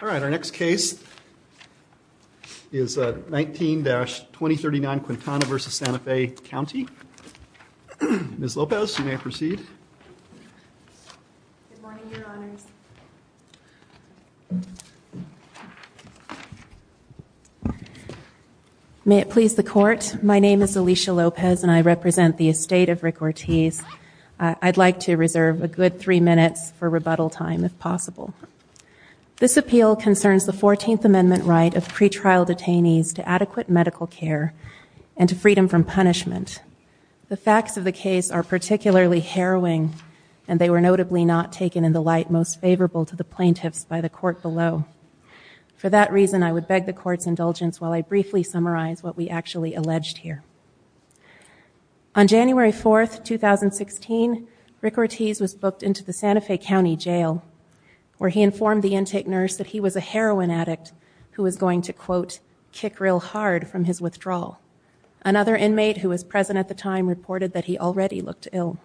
All right, our next case is 19-2039 Quintana v. Santa Fe County. Ms. Lopez, you may proceed. Good morning, Your Honors. May it please the Court, my name is Alicia Lopez and I represent the estate of Rick Ortiz. I'd like to reserve a good three minutes for rebuttal time if possible. This appeal concerns the 14th Amendment right of pretrial detainees to adequate medical care and to freedom from punishment. The facts of the case are particularly harrowing and they were notably not taken in the light most favorable to the plaintiffs by the Court below. For that reason, I would beg the Court's indulgence while I briefly summarize what we actually alleged here. On January 4th, 2016, Rick Ortiz was booked into the Santa Fe County Jail where he informed the intake nurse that he was a heroin addict who was going to, quote, kick real hard from his withdrawal. Another inmate who was present at the time reported that he already looked ill.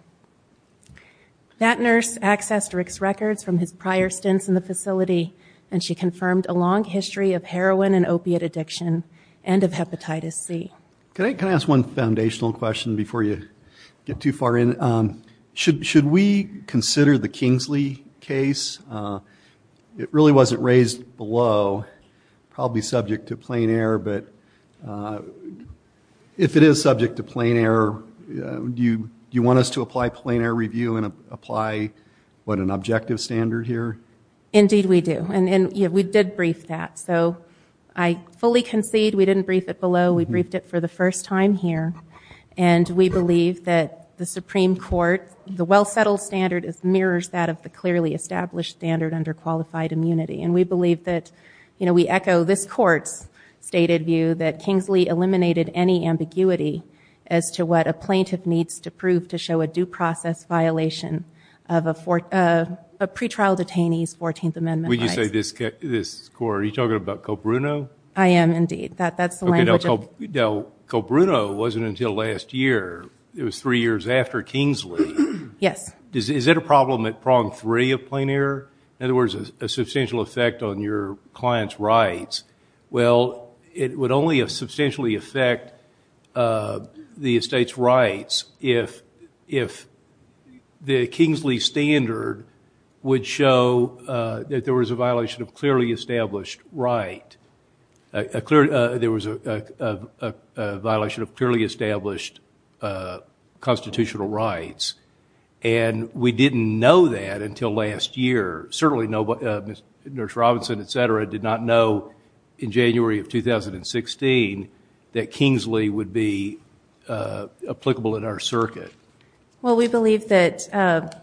That nurse accessed Rick's records from his prior stints in the facility and she confirmed a long history of heroin and opiate addiction and of hepatitis C. Can I ask one foundational question before you get too far in? Should we consider the Kingsley case? It really wasn't raised below, probably subject to plain error, but if it is subject to plain error, do you want us to apply plain error review and apply, what, an objective standard here? Indeed we do. And we did brief that, so I fully concede we didn't brief it below. We briefed it for the first time here, and we believe that the Supreme Court, the well-settled standard mirrors that of the clearly established standard under qualified immunity. And we believe that, you know, we echo this Court's stated view that Kingsley eliminated any ambiguity as to what a plaintiff needs to prove to show a due process violation of a pretrial detainee's 14th Amendment rights. When you say this Court, are you talking about Colbruno? I am, indeed. Now, Colbruno wasn't until last year. It was three years after Kingsley. Yes. Is it a problem at prong three of plain error? In other words, a substantial effect on your client's rights. Well, it would only substantially affect the estate's rights if the Kingsley standard would show that there was a violation of clearly established right. There was a violation of clearly established constitutional rights. And we didn't know that until last year. Certainly, Nurse Robinson, et cetera, did not know in January of 2016 that Kingsley would be applicable in our circuit. Well, we believe that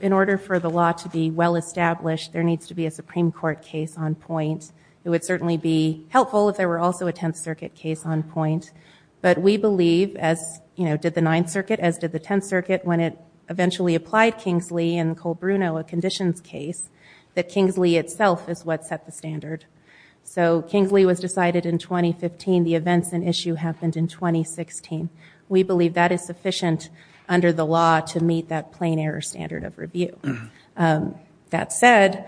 in order for the law to be well-established, there needs to be a Supreme Court case on point. It would certainly be helpful if there were also a Tenth Circuit case on point. But we believe, as did the Ninth Circuit, as did the Tenth Circuit, when it eventually applied Kingsley and Colbruno a conditions case, that Kingsley itself is what set the standard. So Kingsley was decided in 2015. The events and issue happened in 2016. We believe that is sufficient under the law to meet that plain error standard of review. That said,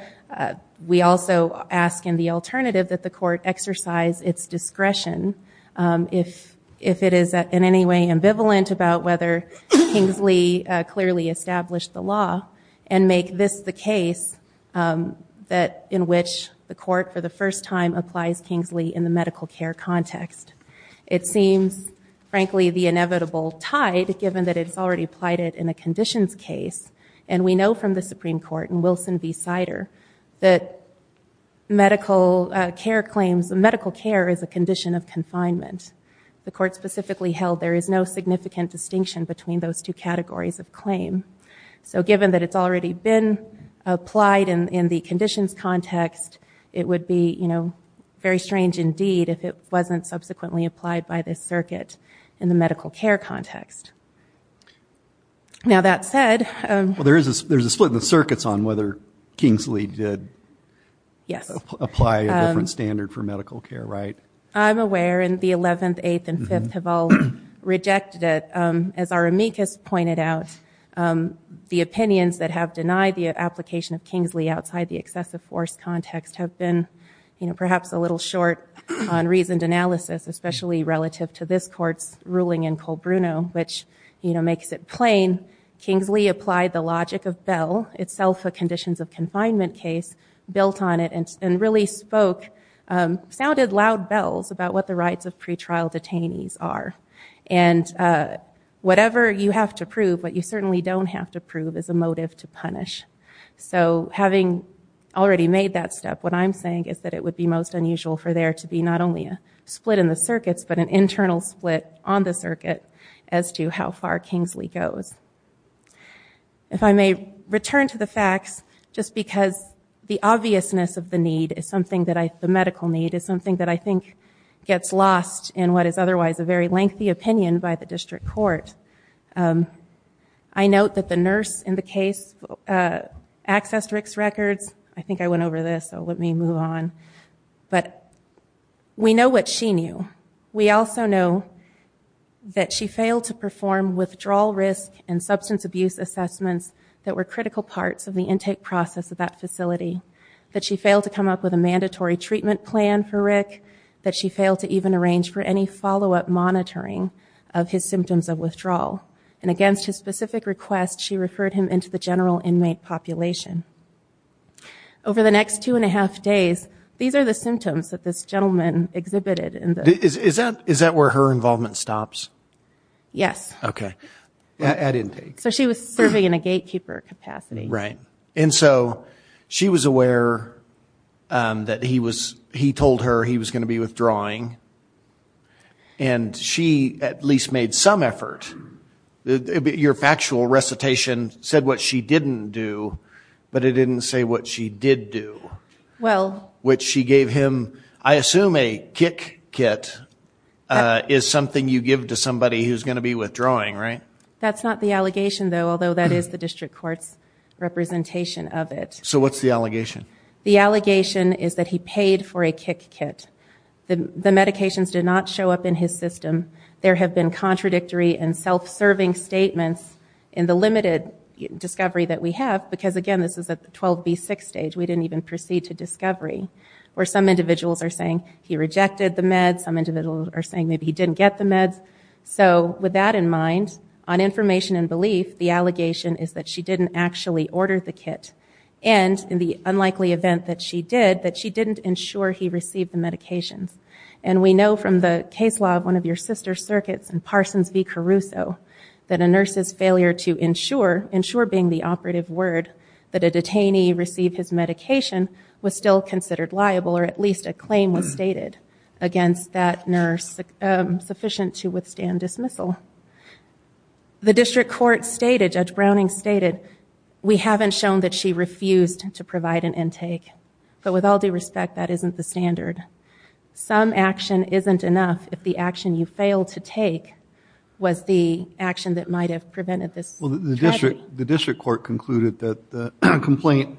we also ask in the alternative that the court exercise its discretion, if it is in any way ambivalent about whether Kingsley clearly established the law, and make this the case in which the court, for the first time, applies Kingsley in the medical care context. It seems, frankly, the inevitable tide, given that it's already applied it in a conditions case. And we know from the Supreme Court in Wilson v. Sider that medical care is a condition of confinement. The court specifically held there is no significant distinction between those two categories of claim. So given that it's already been applied in the conditions context, it would be very strange indeed if it wasn't subsequently applied by this circuit in the medical care context. Now, that said- Well, there's a split in the circuits on whether Kingsley did apply a different standard for medical care, right? I'm aware, and the 11th, 8th, and 5th have all rejected it. As our amicus pointed out, the opinions that have denied the application of Kingsley outside the excessive force context especially relative to this court's ruling in Colbruno, which makes it plain, Kingsley applied the logic of Bell, itself a conditions of confinement case, built on it, and really spoke, sounded loud bells about what the rights of pretrial detainees are. And whatever you have to prove, what you certainly don't have to prove, is a motive to punish. So having already made that step, what I'm saying is that it would be most unusual for there to be not only a split in the circuits, but an internal split on the circuit as to how far Kingsley goes. If I may return to the facts, just because the obviousness of the need, the medical need, is something that I think gets lost in what is otherwise a very lengthy opinion by the district court. I note that the nurse in the case accessed Rick's records. I think I went over this, so let me move on. But we know what she knew. We also know that she failed to perform withdrawal risk and substance abuse assessments that were critical parts of the intake process of that facility, that she failed to come up with a mandatory treatment plan for Rick, that she failed to even arrange for any follow-up monitoring of his symptoms of withdrawal. And against his specific request, she referred him into the general inmate population. Over the next two and a half days, these are the symptoms that this gentleman exhibited. Is that where her involvement stops? Yes. Okay. At intake. So she was serving in a gatekeeper capacity. Right. And so she was aware that he told her he was going to be withdrawing, and she at least made some effort. Your factual recitation said what she didn't do, but it didn't say what she did do. Well. Which she gave him, I assume a kick kit is something you give to somebody who's going to be withdrawing, right? That's not the allegation, though, although that is the district court's representation of it. So what's the allegation? The allegation is that he paid for a kick kit. The medications did not show up in his system. There have been contradictory and self-serving statements in the limited discovery that we have, because, again, this is at the 12B6 stage. We didn't even proceed to discovery, where some individuals are saying he rejected the meds, some individuals are saying maybe he didn't get the meds. So with that in mind, on information and belief, the allegation is that she didn't actually order the kit. And in the unlikely event that she did, that she didn't ensure he received the medications. And we know from the case law of one of your sister's circuits in Parsons v. Caruso, that a nurse's failure to ensure, ensure being the operative word, that a detainee received his medication was still considered liable, or at least a claim was stated against that nurse sufficient to withstand dismissal. The district court stated, Judge Browning stated, we haven't shown that she refused to provide an intake. But with all due respect, that isn't the standard. Some action isn't enough if the action you failed to take was the action that might have prevented this tragedy. Well, the district court concluded that the complaint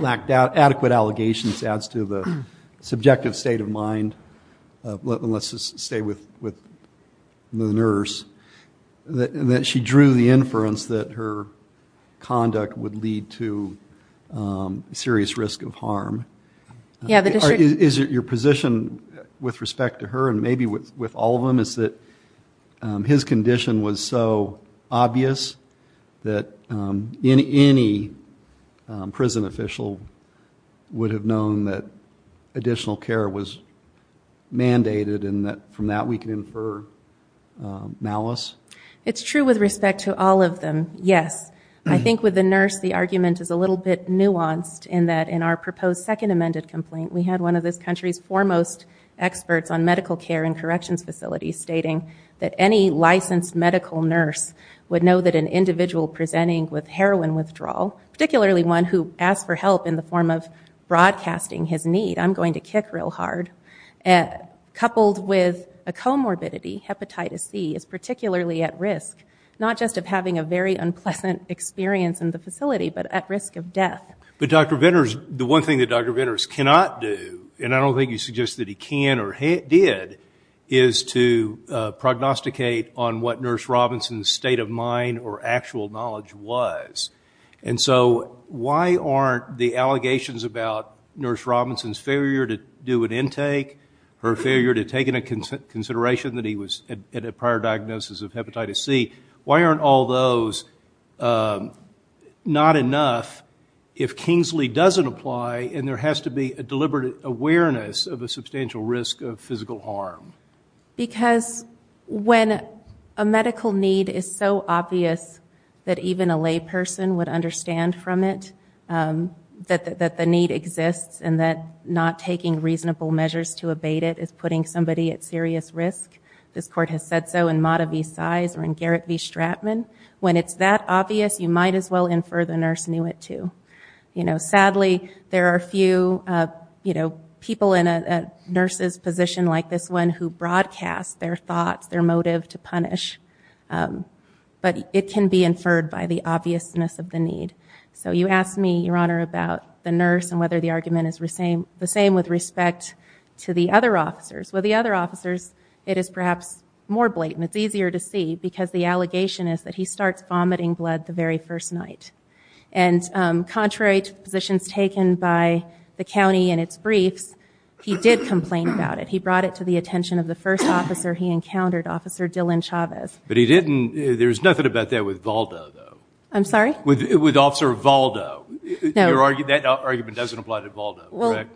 lacked adequate allegations, adds to the subjective state of mind, let's just stay with the nurse, that she drew the inference that her conduct would lead to serious risk of harm. Is your position with respect to her, and maybe with all of them, is that his condition was so obvious that any prison official would have known that additional care was mandated, and that from that we can infer malice? It's true with respect to all of them, yes. I think with the nurse, the argument is a little bit nuanced, in that in our proposed second amended complaint, we had one of this country's foremost experts on medical care and corrections facilities stating that any licensed medical nurse would know that an individual presenting with heroin withdrawal, particularly one who asked for help in the form of broadcasting his need, I'm going to kick real hard, coupled with a comorbidity, hepatitis C, is particularly at risk, not just of having a very unpleasant experience in the facility, but at risk of death. But Dr. Venter, the one thing that Dr. Venter cannot do, and I don't think you suggest that he can or did, is to prognosticate on what Nurse Robinson's state of mind or actual knowledge was. And so why aren't the allegations about Nurse Robinson's failure to do an intake, her failure to take into consideration that he was at a prior diagnosis of hepatitis C, why aren't all those not enough if Kingsley doesn't apply and there has to be a deliberate awareness of a substantial risk of physical harm? Because when a medical need is so obvious that even a lay person would understand from it, that the need exists and that not taking reasonable measures to abate it is putting somebody at serious risk. This court has said so in Mata v. Size or in Garrett v. Stratman. When it's that obvious, you might as well infer the nurse knew it too. Sadly, there are a few people in a nurse's position like this one who broadcast their thoughts, their motive to punish, but it can be inferred by the obviousness of the need. So you asked me, Your Honor, about the nurse and whether the argument is the same with respect to the other officers. With the other officers, it is perhaps more blatant. It's easier to see because the allegation is that he starts vomiting blood the very first night. And contrary to positions taken by the county in its briefs, he did complain about it. He brought it to the attention of the first officer he encountered, Officer Dylan Chavez. But he didn't – there's nothing about that with Valda, though. I'm sorry? With Officer Valda. That argument doesn't apply to Valda, correct?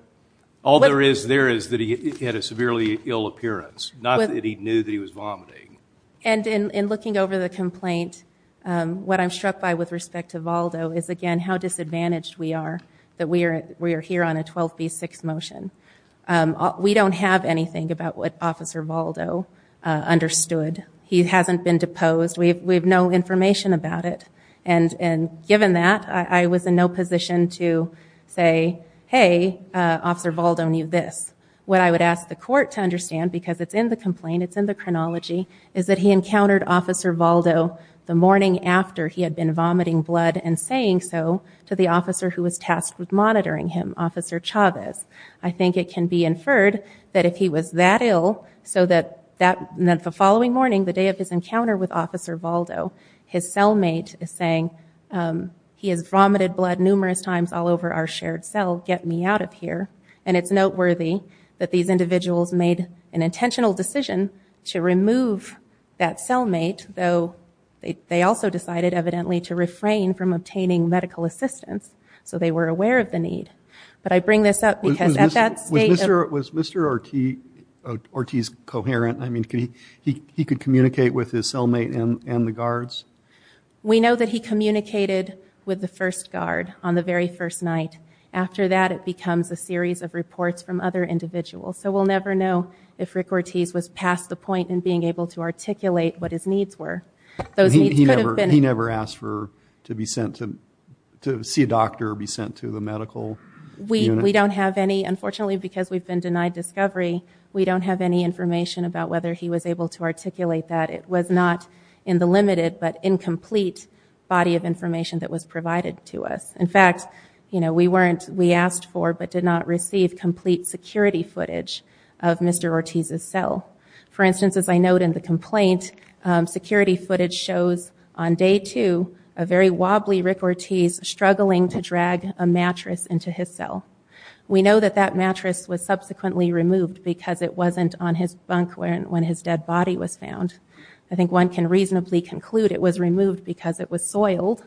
All there is there is that he had a severely ill appearance, not that he knew that he was vomiting. And in looking over the complaint, what I'm struck by with respect to Valda is, again, how disadvantaged we are that we are here on a 12B6 motion. We don't have anything about what Officer Valda understood. He hasn't been deposed. We have no information about it. And given that, I was in no position to say, hey, Officer Valda knew this. What I would ask the court to understand, because it's in the complaint, it's in the chronology, is that he encountered Officer Valda the morning after he had been vomiting blood and saying so to the officer who was tasked with monitoring him, Officer Chavez. I think it can be inferred that if he was that ill, so that the following morning, the day of his encounter with Officer Valda, his cellmate is saying, he has vomited blood numerous times all over our shared cell, get me out of here. And it's noteworthy that these individuals made an intentional decision to remove that cellmate, though they also decided, evidently, to refrain from obtaining medical assistance. So they were aware of the need. But I bring this up because at that state of... Was Mr. Ortiz coherent? I mean, he could communicate with his cellmate and the guards? We know that he communicated with the first guard on the very first night. After that, it becomes a series of reports from other individuals. So we'll never know if Rick Ortiz was past the point in being able to articulate what his needs were. He never asked to see a doctor or be sent to the medical unit? We don't have any. Unfortunately, because we've been denied discovery, we don't have any information about whether he was able to articulate that. It was not in the limited but incomplete body of information that was provided to us. In fact, we asked for but did not receive complete security footage of Mr. Ortiz's cell. For instance, as I note in the complaint, security footage shows, on day two, a very wobbly Rick Ortiz struggling to drag a mattress into his cell. We know that that mattress was subsequently removed because it wasn't on his bunk when his dead body was found. I think one can reasonably conclude it was removed because it was soiled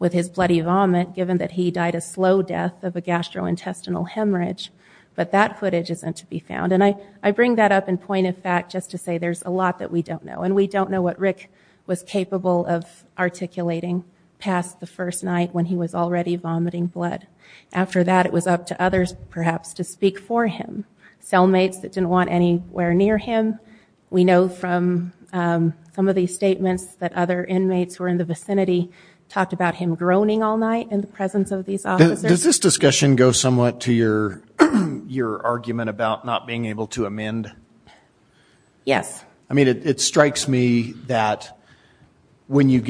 with his bloody vomit, given that he died a slow death of a gastrointestinal hemorrhage. But that footage isn't to be found. And I bring that up in point of fact just to say there's a lot that we don't know. And we don't know what Rick was capable of articulating past the first night when he was already vomiting blood. After that, it was up to others, perhaps, to speak for him. Cellmates that didn't want anywhere near him. We know from some of these statements that other inmates who were in the vicinity talked about him groaning all night in the presence of these officers. Does this discussion go somewhat to your argument about not being able to amend? Yes. I mean, it strikes me that when you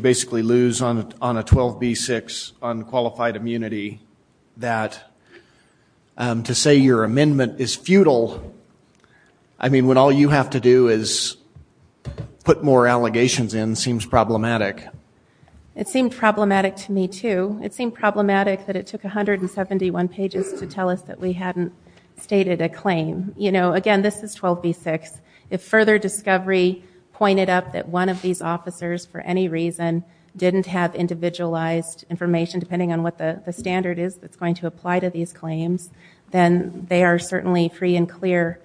basically lose on a 12B6 on qualified immunity, that to say your amendment is futile, I mean, when all you have to do is put more allegations in, seems problematic. It seemed problematic to me, too. It seemed problematic that it took 171 pages to tell us that we hadn't stated a claim. You know, again, this is 12B6. If further discovery pointed up that one of these officers for any reason didn't have individualized information, depending on what the standard is that's going to apply to these claims, then they are certainly free and clear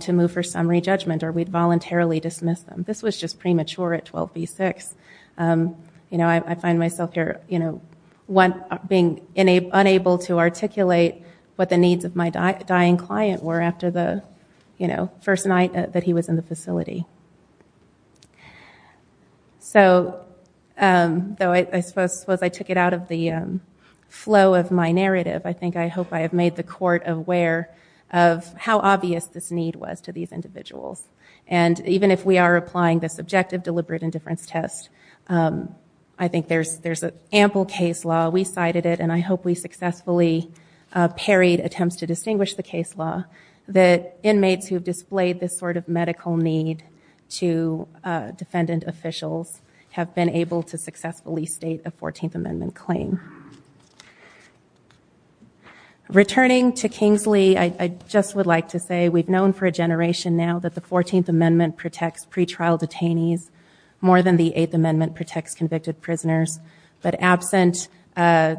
to move for summary judgment or we'd voluntarily dismiss them. This was just premature at 12B6. You know, I find myself here being unable to articulate what the needs of my dying client were after the first night that he was in the facility. Though I suppose I took it out of the flow of my narrative, I think I hope I have made the court aware of how obvious this need was to these individuals. And even if we are applying the subjective deliberate indifference test, I think there's ample case law. We cited it, and I hope we successfully parried attempts to distinguish the case law that inmates who have displayed this sort of medical need to defendant officials have been able to successfully state a 14th Amendment claim. Returning to Kingsley, I just would like to say we've known for a generation now that the 14th Amendment protects pretrial detainees more than the 8th Amendment protects convicted prisoners. But absent a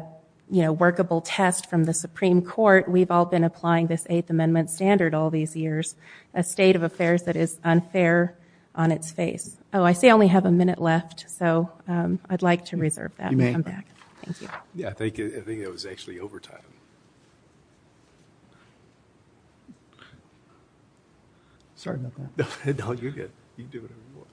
workable test from the Supreme Court, we've all been applying this 8th Amendment standard all these years, a state of affairs that is unfair on its face. Oh, I see I only have a minute left, so I'd like to reserve that and come back. Thank you. Yeah, I think it was actually overtime. No, you're good. You can do whatever you want.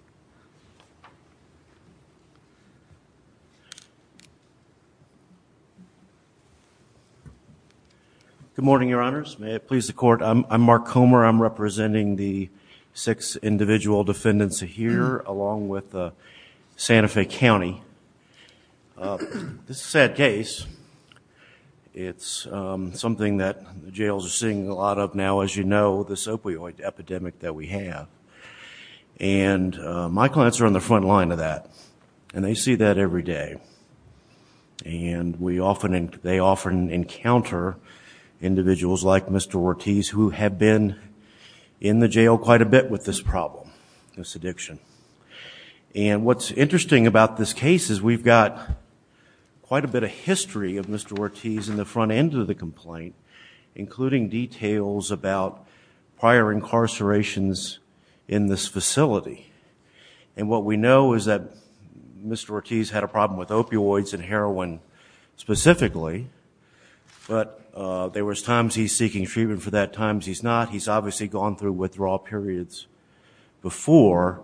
Good morning, Your Honors. May it please the Court. I'm Mark Comer. I'm representing the six individual defendants here along with Santa Fe County. This is a sad case. It's something that jails are seeing a lot of now, as you know, with this opioid epidemic that we have. And my clients are on the front line of that, and they see that every day. And they often encounter individuals like Mr. Ortiz who have been in the jail quite a bit with this problem, this addiction. And what's interesting about this case is we've got quite a bit of history of Mr. Ortiz in the front end of the complaint, including details about prior incarcerations in this facility. And what we know is that Mr. Ortiz had a problem with opioids and heroin specifically, but there was times he's seeking treatment for that, times he's not. He's obviously gone through withdrawal periods before,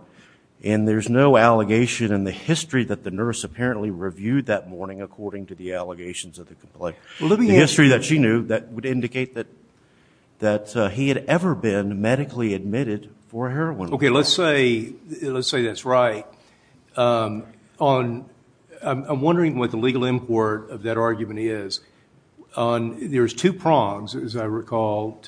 and there's no allegation in the history that the nurse apparently reviewed that morning according to the allegations of the complaint. The history that she knew that would indicate that he had ever been medically admitted for heroin. Okay, let's say that's right. I'm wondering what the legal import of that argument is. There's two prongs, as I recall,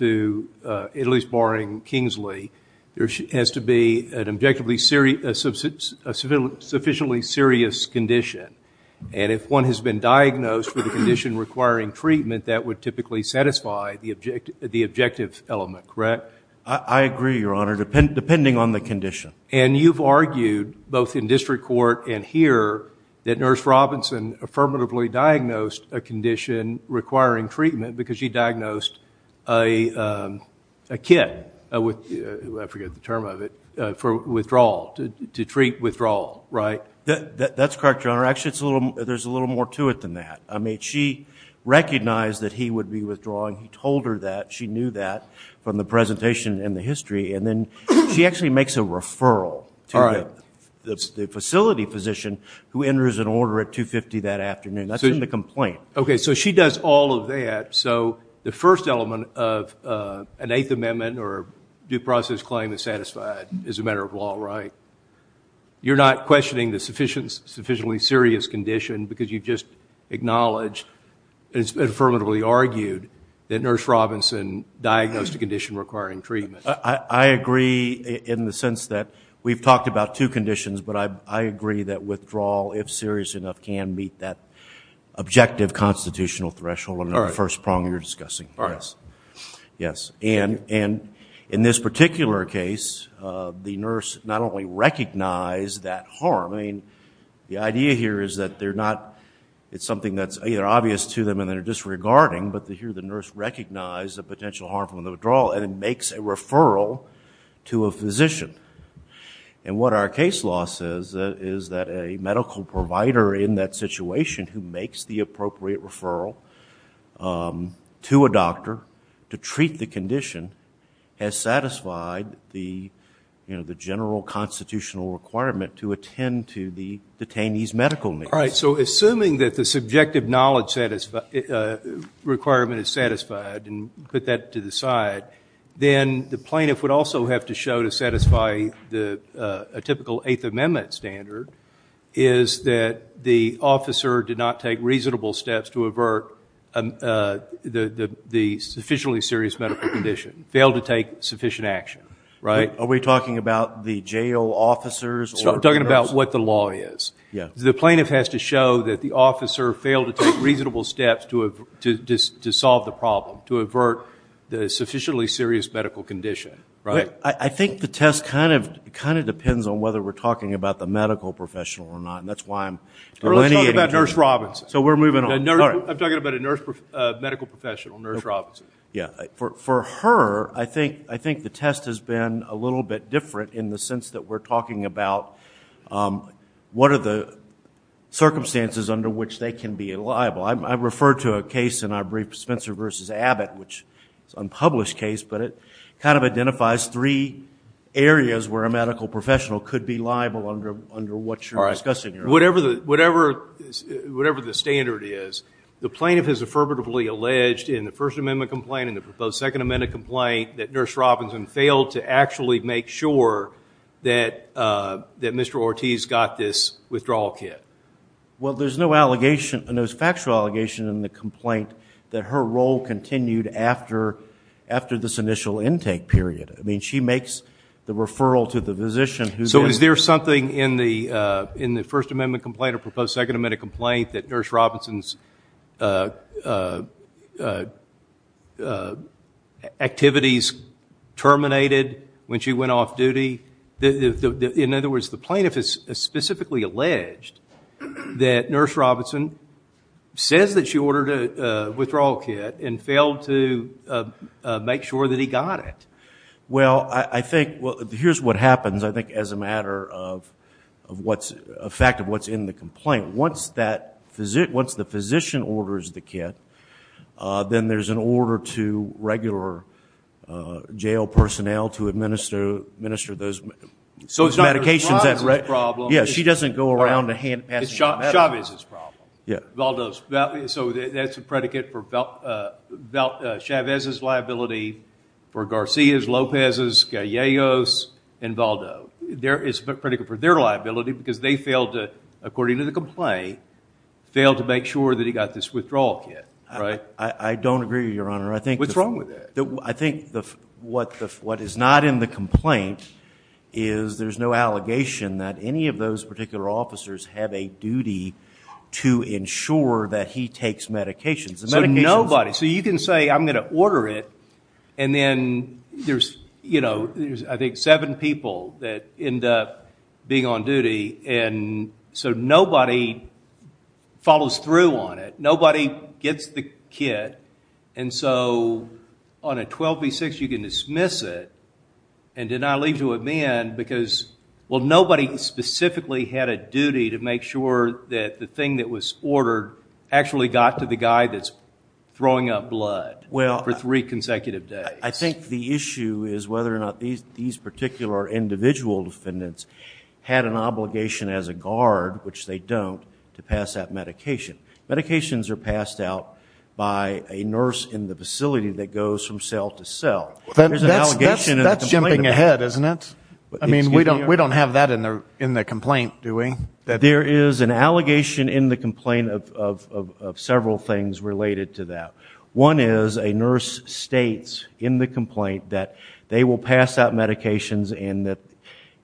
at least barring Kingsley. There has to be a sufficiently serious condition, and if one has been diagnosed with a condition requiring treatment, that would typically satisfy the objective element, correct? I agree, Your Honor, depending on the condition. And you've argued both in district court and here that Nurse Robinson affirmatively diagnosed a condition requiring treatment because she diagnosed a kit, I forget the term of it, for withdrawal, to treat withdrawal, right? That's correct, Your Honor. Actually, there's a little more to it than that. I mean, she recognized that he would be withdrawing. He told her that. She knew that from the presentation and the history, and then she actually makes a referral to the facility physician who enters an order at 2.50 that afternoon. That's in the complaint. Okay, so she does all of that. So the first element of an Eighth Amendment or due process claim is satisfied as a matter of law, right? You're not questioning the sufficiently serious condition because you've just acknowledged and affirmatively argued that Nurse Robinson diagnosed a condition requiring treatment. I agree in the sense that we've talked about two conditions, but I agree that withdrawal, if serious enough, can meet that objective constitutional threshold of the first prong you're discussing. All right. Yes. And in this particular case, the nurse not only recognized that harm. I mean, the idea here is that it's something that's either obvious to them and they're disregarding, but here the nurse recognized the potential harm from the withdrawal and makes a referral to a physician. And what our case law says is that a medical provider in that situation who makes the appropriate referral to a doctor to treat the condition has satisfied the general constitutional requirement to attend to the detainee's medical needs. All right. So assuming that the subjective knowledge requirement is satisfied and put that to the side, then the plaintiff would also have to show to satisfy a typical Eighth Amendment standard is that the officer did not take reasonable steps to avert the sufficiently serious medical condition, failed to take sufficient action, right? Are we talking about the jail officers? We're talking about what the law is. The plaintiff has to show that the officer failed to take reasonable steps to solve the problem, to avert the sufficiently serious medical condition, right? I think the test kind of depends on whether we're talking about the medical professional or not, and that's why I'm delineating. Let's talk about Nurse Robinson. So we're moving on. I'm talking about a medical professional, Nurse Robinson. Yeah. For her, I think the test has been a little bit different in the sense that we're talking about what are the circumstances under which they can be liable. I refer to a case in our brief, Spencer v. Abbott, which is an unpublished case, but it kind of identifies three areas where a medical professional could be liable under what you're discussing. Whatever the standard is, the plaintiff has affirmatively alleged in the First Amendment complaint and the proposed Second Amendment complaint that Nurse Robinson failed to actually make sure that Mr. Ortiz got this withdrawal kit. Well, there's no allegation, no factual allegation in the complaint that her role continued after this initial intake period. I mean, she makes the referral to the physician. So is there something in the First Amendment complaint or proposed Second Amendment complaint that Nurse Robinson's activities terminated when she went off duty? In other words, the plaintiff has specifically alleged that Nurse Robinson says that she ordered a withdrawal kit and failed to make sure that he got it. Well, here's what happens, I think, as a matter of what's in the complaint. Once the physician orders the kit, then there's an order to regular jail personnel to administer those medications. So it's not Nurse Robinson's problem. Yes, she doesn't go around and hand pass medication. It's Chavez's problem. Yeah. Valdo's. So that's a predicate for Chavez's liability, for Garcia's, Lopez's, Galleo's, and Valdo. It's a predicate for their liability because they failed to, according to the complaint, failed to make sure that he got this withdrawal kit, right? I don't agree, Your Honor. What's wrong with that? I think what is not in the complaint is there's no allegation that any of those particular officers have a duty to ensure that he takes medications. So nobody. So you can say, I'm going to order it, and then there's, I think, seven people that end up being on duty. So nobody follows through on it. Nobody gets the kit. And so on a 12 v. 6, you can dismiss it and deny leave to a man because, well, nobody specifically had a duty to make sure that the thing that was ordered actually got to the guy that's throwing up blood for three consecutive days. I think the issue is whether or not these particular individual defendants had an obligation as a guard, which they don't, to pass that medication. Medications are passed out by a nurse in the facility that goes from cell to cell. That's jumping ahead, isn't it? I mean, we don't have that in the complaint, do we? There is an allegation in the complaint of several things related to that. One is a nurse states in the complaint that they will pass out medications and that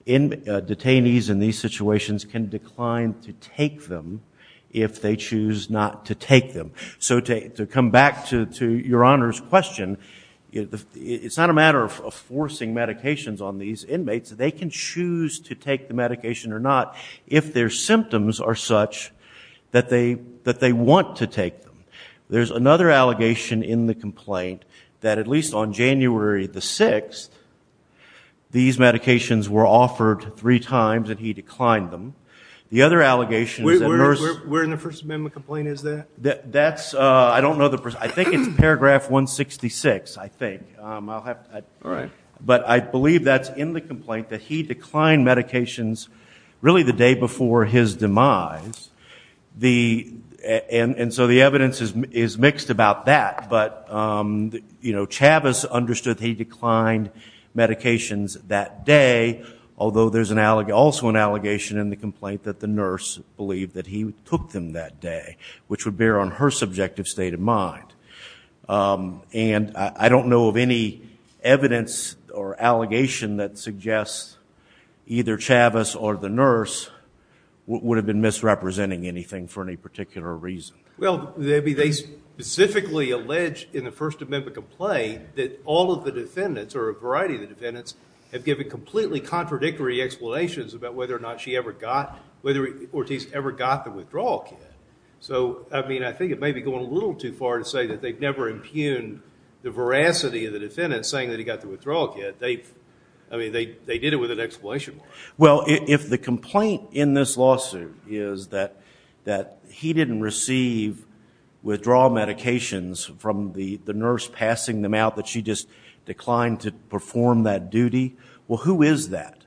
detainees in these situations can decline to take them if they choose not to take them. So to come back to Your Honor's question, it's not a matter of forcing medications on these inmates. They can choose to take the medication or not if their symptoms are such that they want to take them. There's another allegation in the complaint that at least on January the 6th, these medications were offered three times and he declined them. The other allegation is that a nurse- Where in the First Amendment complaint is that? That's, I don't know the- I think it's paragraph 166, I think. I'll have to- All right. But I believe that's in the complaint that he declined medications really the day before his demise. And so the evidence is mixed about that. But Chavis understood that he declined medications that day, although there's also an allegation in the complaint that the nurse believed that he took them that day, which would bear on her subjective state of mind. And I don't know of any evidence or allegation that suggests either Chavis or the nurse would have been misrepresenting anything for any particular reason. Well, they specifically allege in the First Amendment complaint that all of the defendants or a variety of the defendants have given completely contradictory explanations about whether or not Ortiz ever got the withdrawal kit. So, I mean, I think it may be going a little too far to say that they've never impugned the veracity of the defendants saying that he got the withdrawal kit. I mean, they did it with an explanation. Well, if the complaint in this lawsuit is that he didn't receive withdrawal medications from the nurse passing them out, that she just declined to perform that duty, well, who is that?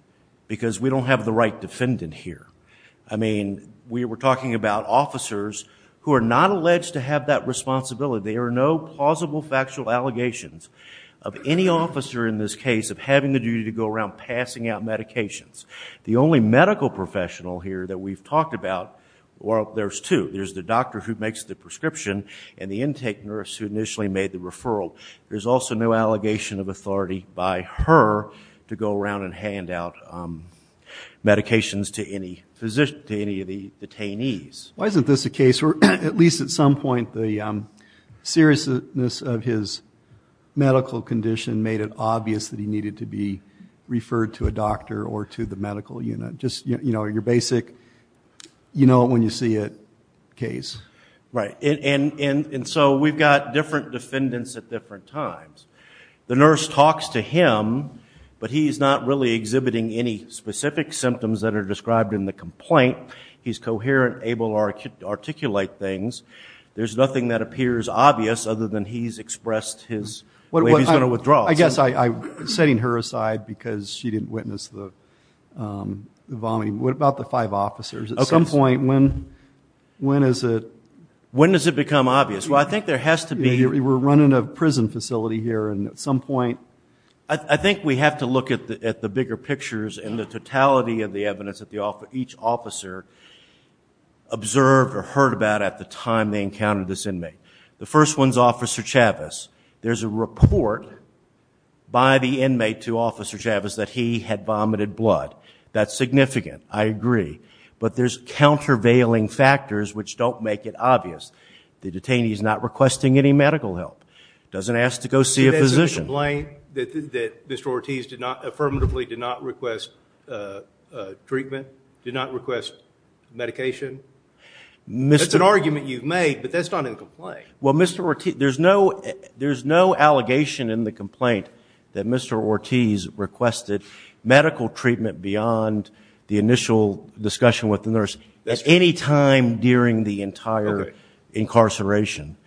Because we don't have the right defendant here. I mean, we were talking about officers who are not alleged to have that responsibility. There are no plausible factual allegations of any officer in this case of having the duty to go around passing out medications. The only medical professional here that we've talked about, well, there's two. There's the doctor who makes the prescription and the intake nurse who initially made the referral. There's also no allegation of authority by her to go around and hand out medications to any of the detainees. Why isn't this a case where, at least at some point, the seriousness of his medical condition made it obvious that he needed to be referred to a doctor or to the medical unit? Just, you know, your basic you-know-when-you-see-it case. Right. And so we've got different defendants at different times. The nurse talks to him, but he's not really exhibiting any specific symptoms that are described in the complaint. He's coherent, able to articulate things. There's nothing that appears obvious other than he's expressed his way he's going to withdraw. I guess I'm setting her aside because she didn't witness the vomiting. What about the five officers? At some point, when is it? When does it become obvious? Well, I think there has to be. We're running a prison facility here, and at some point. I think we have to look at the bigger pictures and the totality of the evidence that each officer observed or heard about at the time they encountered this inmate. The first one is Officer Chavez. There's a report by the inmate to Officer Chavez that he had vomited blood. That's significant. I agree. But there's countervailing factors which don't make it obvious. The detainee is not requesting any medical help, doesn't ask to go see a physician. There's a complaint that Mr. Ortiz affirmatively did not request treatment, did not request medication. That's an argument you've made, but that's not in the complaint. Well, Mr. Ortiz, there's no allegation in the complaint that Mr. Ortiz requested medical treatment beyond the initial discussion with the nurse at any time during the entire incarceration.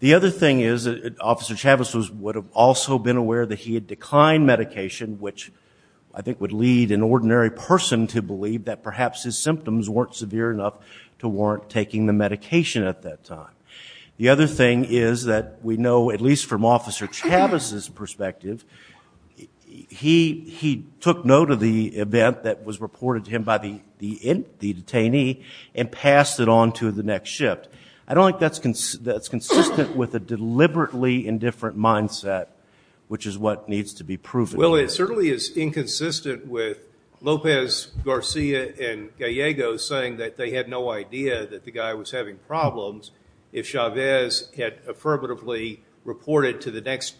The other thing is that Officer Chavez would have also been aware that he had declined medication, which I think would lead an ordinary person to believe that perhaps his symptoms weren't severe enough to warrant taking the medication at that time. The other thing is that we know, at least from Officer Chavez's perspective, he took note of the event that was reported to him by the detainee and passed it on to the next shift. I don't think that's consistent with a deliberately indifferent mindset, which is what needs to be proven. Well, it certainly is inconsistent with Lopez, Garcia, and Gallego saying that they had no idea that the guy was having problems if Chavez had affirmatively reported to the next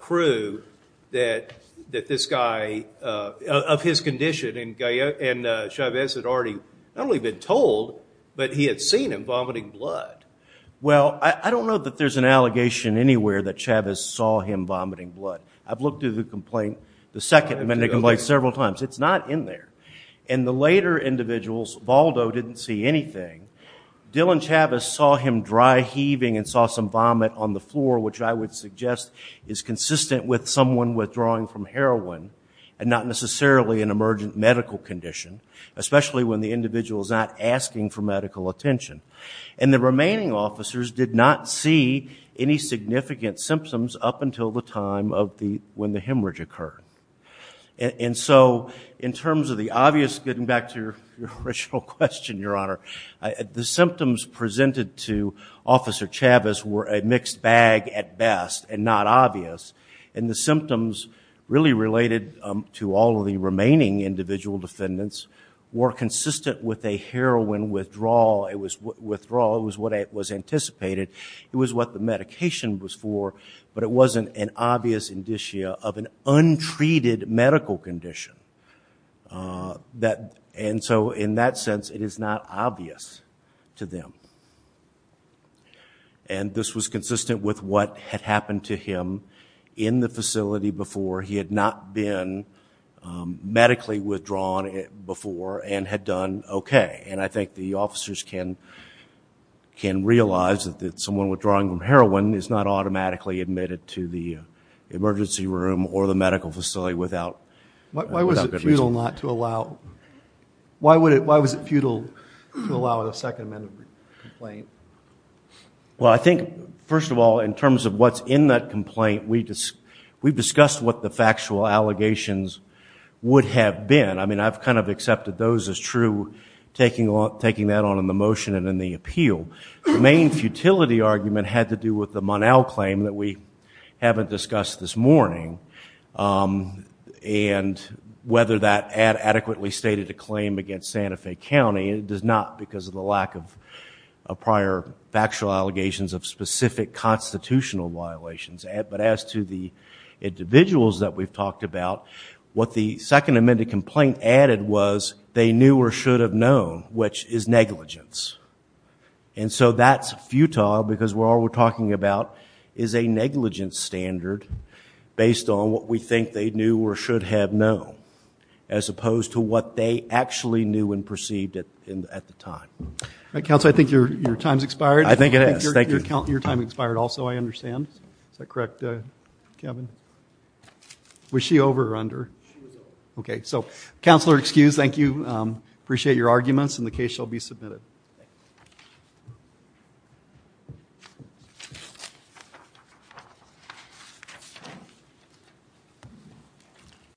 crew that this guy, of his condition, and Chavez had already not only been told, but he had seen him vomiting blood. Well, I don't know that there's an allegation anywhere that Chavez saw him vomiting blood. I've looked at the complaint, the second amendment complaint, several times. It's not in there. In the later individuals, Valdo didn't see anything. Dylan Chavez saw him dry heaving and saw some vomit on the floor, which I would suggest is consistent with someone withdrawing from heroin and not necessarily an emergent medical condition, especially when the individual is not asking for medical attention. And the remaining officers did not see any significant symptoms up until the time when the hemorrhage occurred. And so in terms of the obvious, getting back to your original question, Your Honor, the symptoms presented to Officer Chavez were a mixed bag at best and not obvious, and the symptoms really related to all of the remaining individual defendants were consistent with a heroin withdrawal. It was withdrawal. It was what was anticipated. It was what the medication was for, but it wasn't an obvious indicia of an untreated medical condition. And so in that sense, it is not obvious to them. And this was consistent with what had happened to him in the facility before. He had not been medically withdrawn before and had done okay. And I think the officers can realize that someone withdrawing from heroin is not automatically admitted to the emergency room Why was it futile to allow a Second Amendment complaint? Well, I think, first of all, in terms of what's in that complaint, we discussed what the factual allegations would have been. I mean, I've kind of accepted those as true, taking that on in the motion and in the appeal. The main futility argument had to do with the Monal claim that we haven't discussed this morning and whether that adequately stated a claim against Santa Fe County. It does not because of the lack of prior factual allegations of specific constitutional violations. But as to the individuals that we've talked about, what the Second Amendment complaint added was they knew or should have known, which is negligence. And so that's futile because all we're talking about is a negligence standard based on what we think they knew or should have known, as opposed to what they actually knew and perceived at the time. Counsel, I think your time's expired. I think it is. Thank you. Your time expired also, I understand. Is that correct, Kevin? Was she over or under? She was over. Counselor, excused. Thank you. Appreciate your arguments and the case shall be submitted.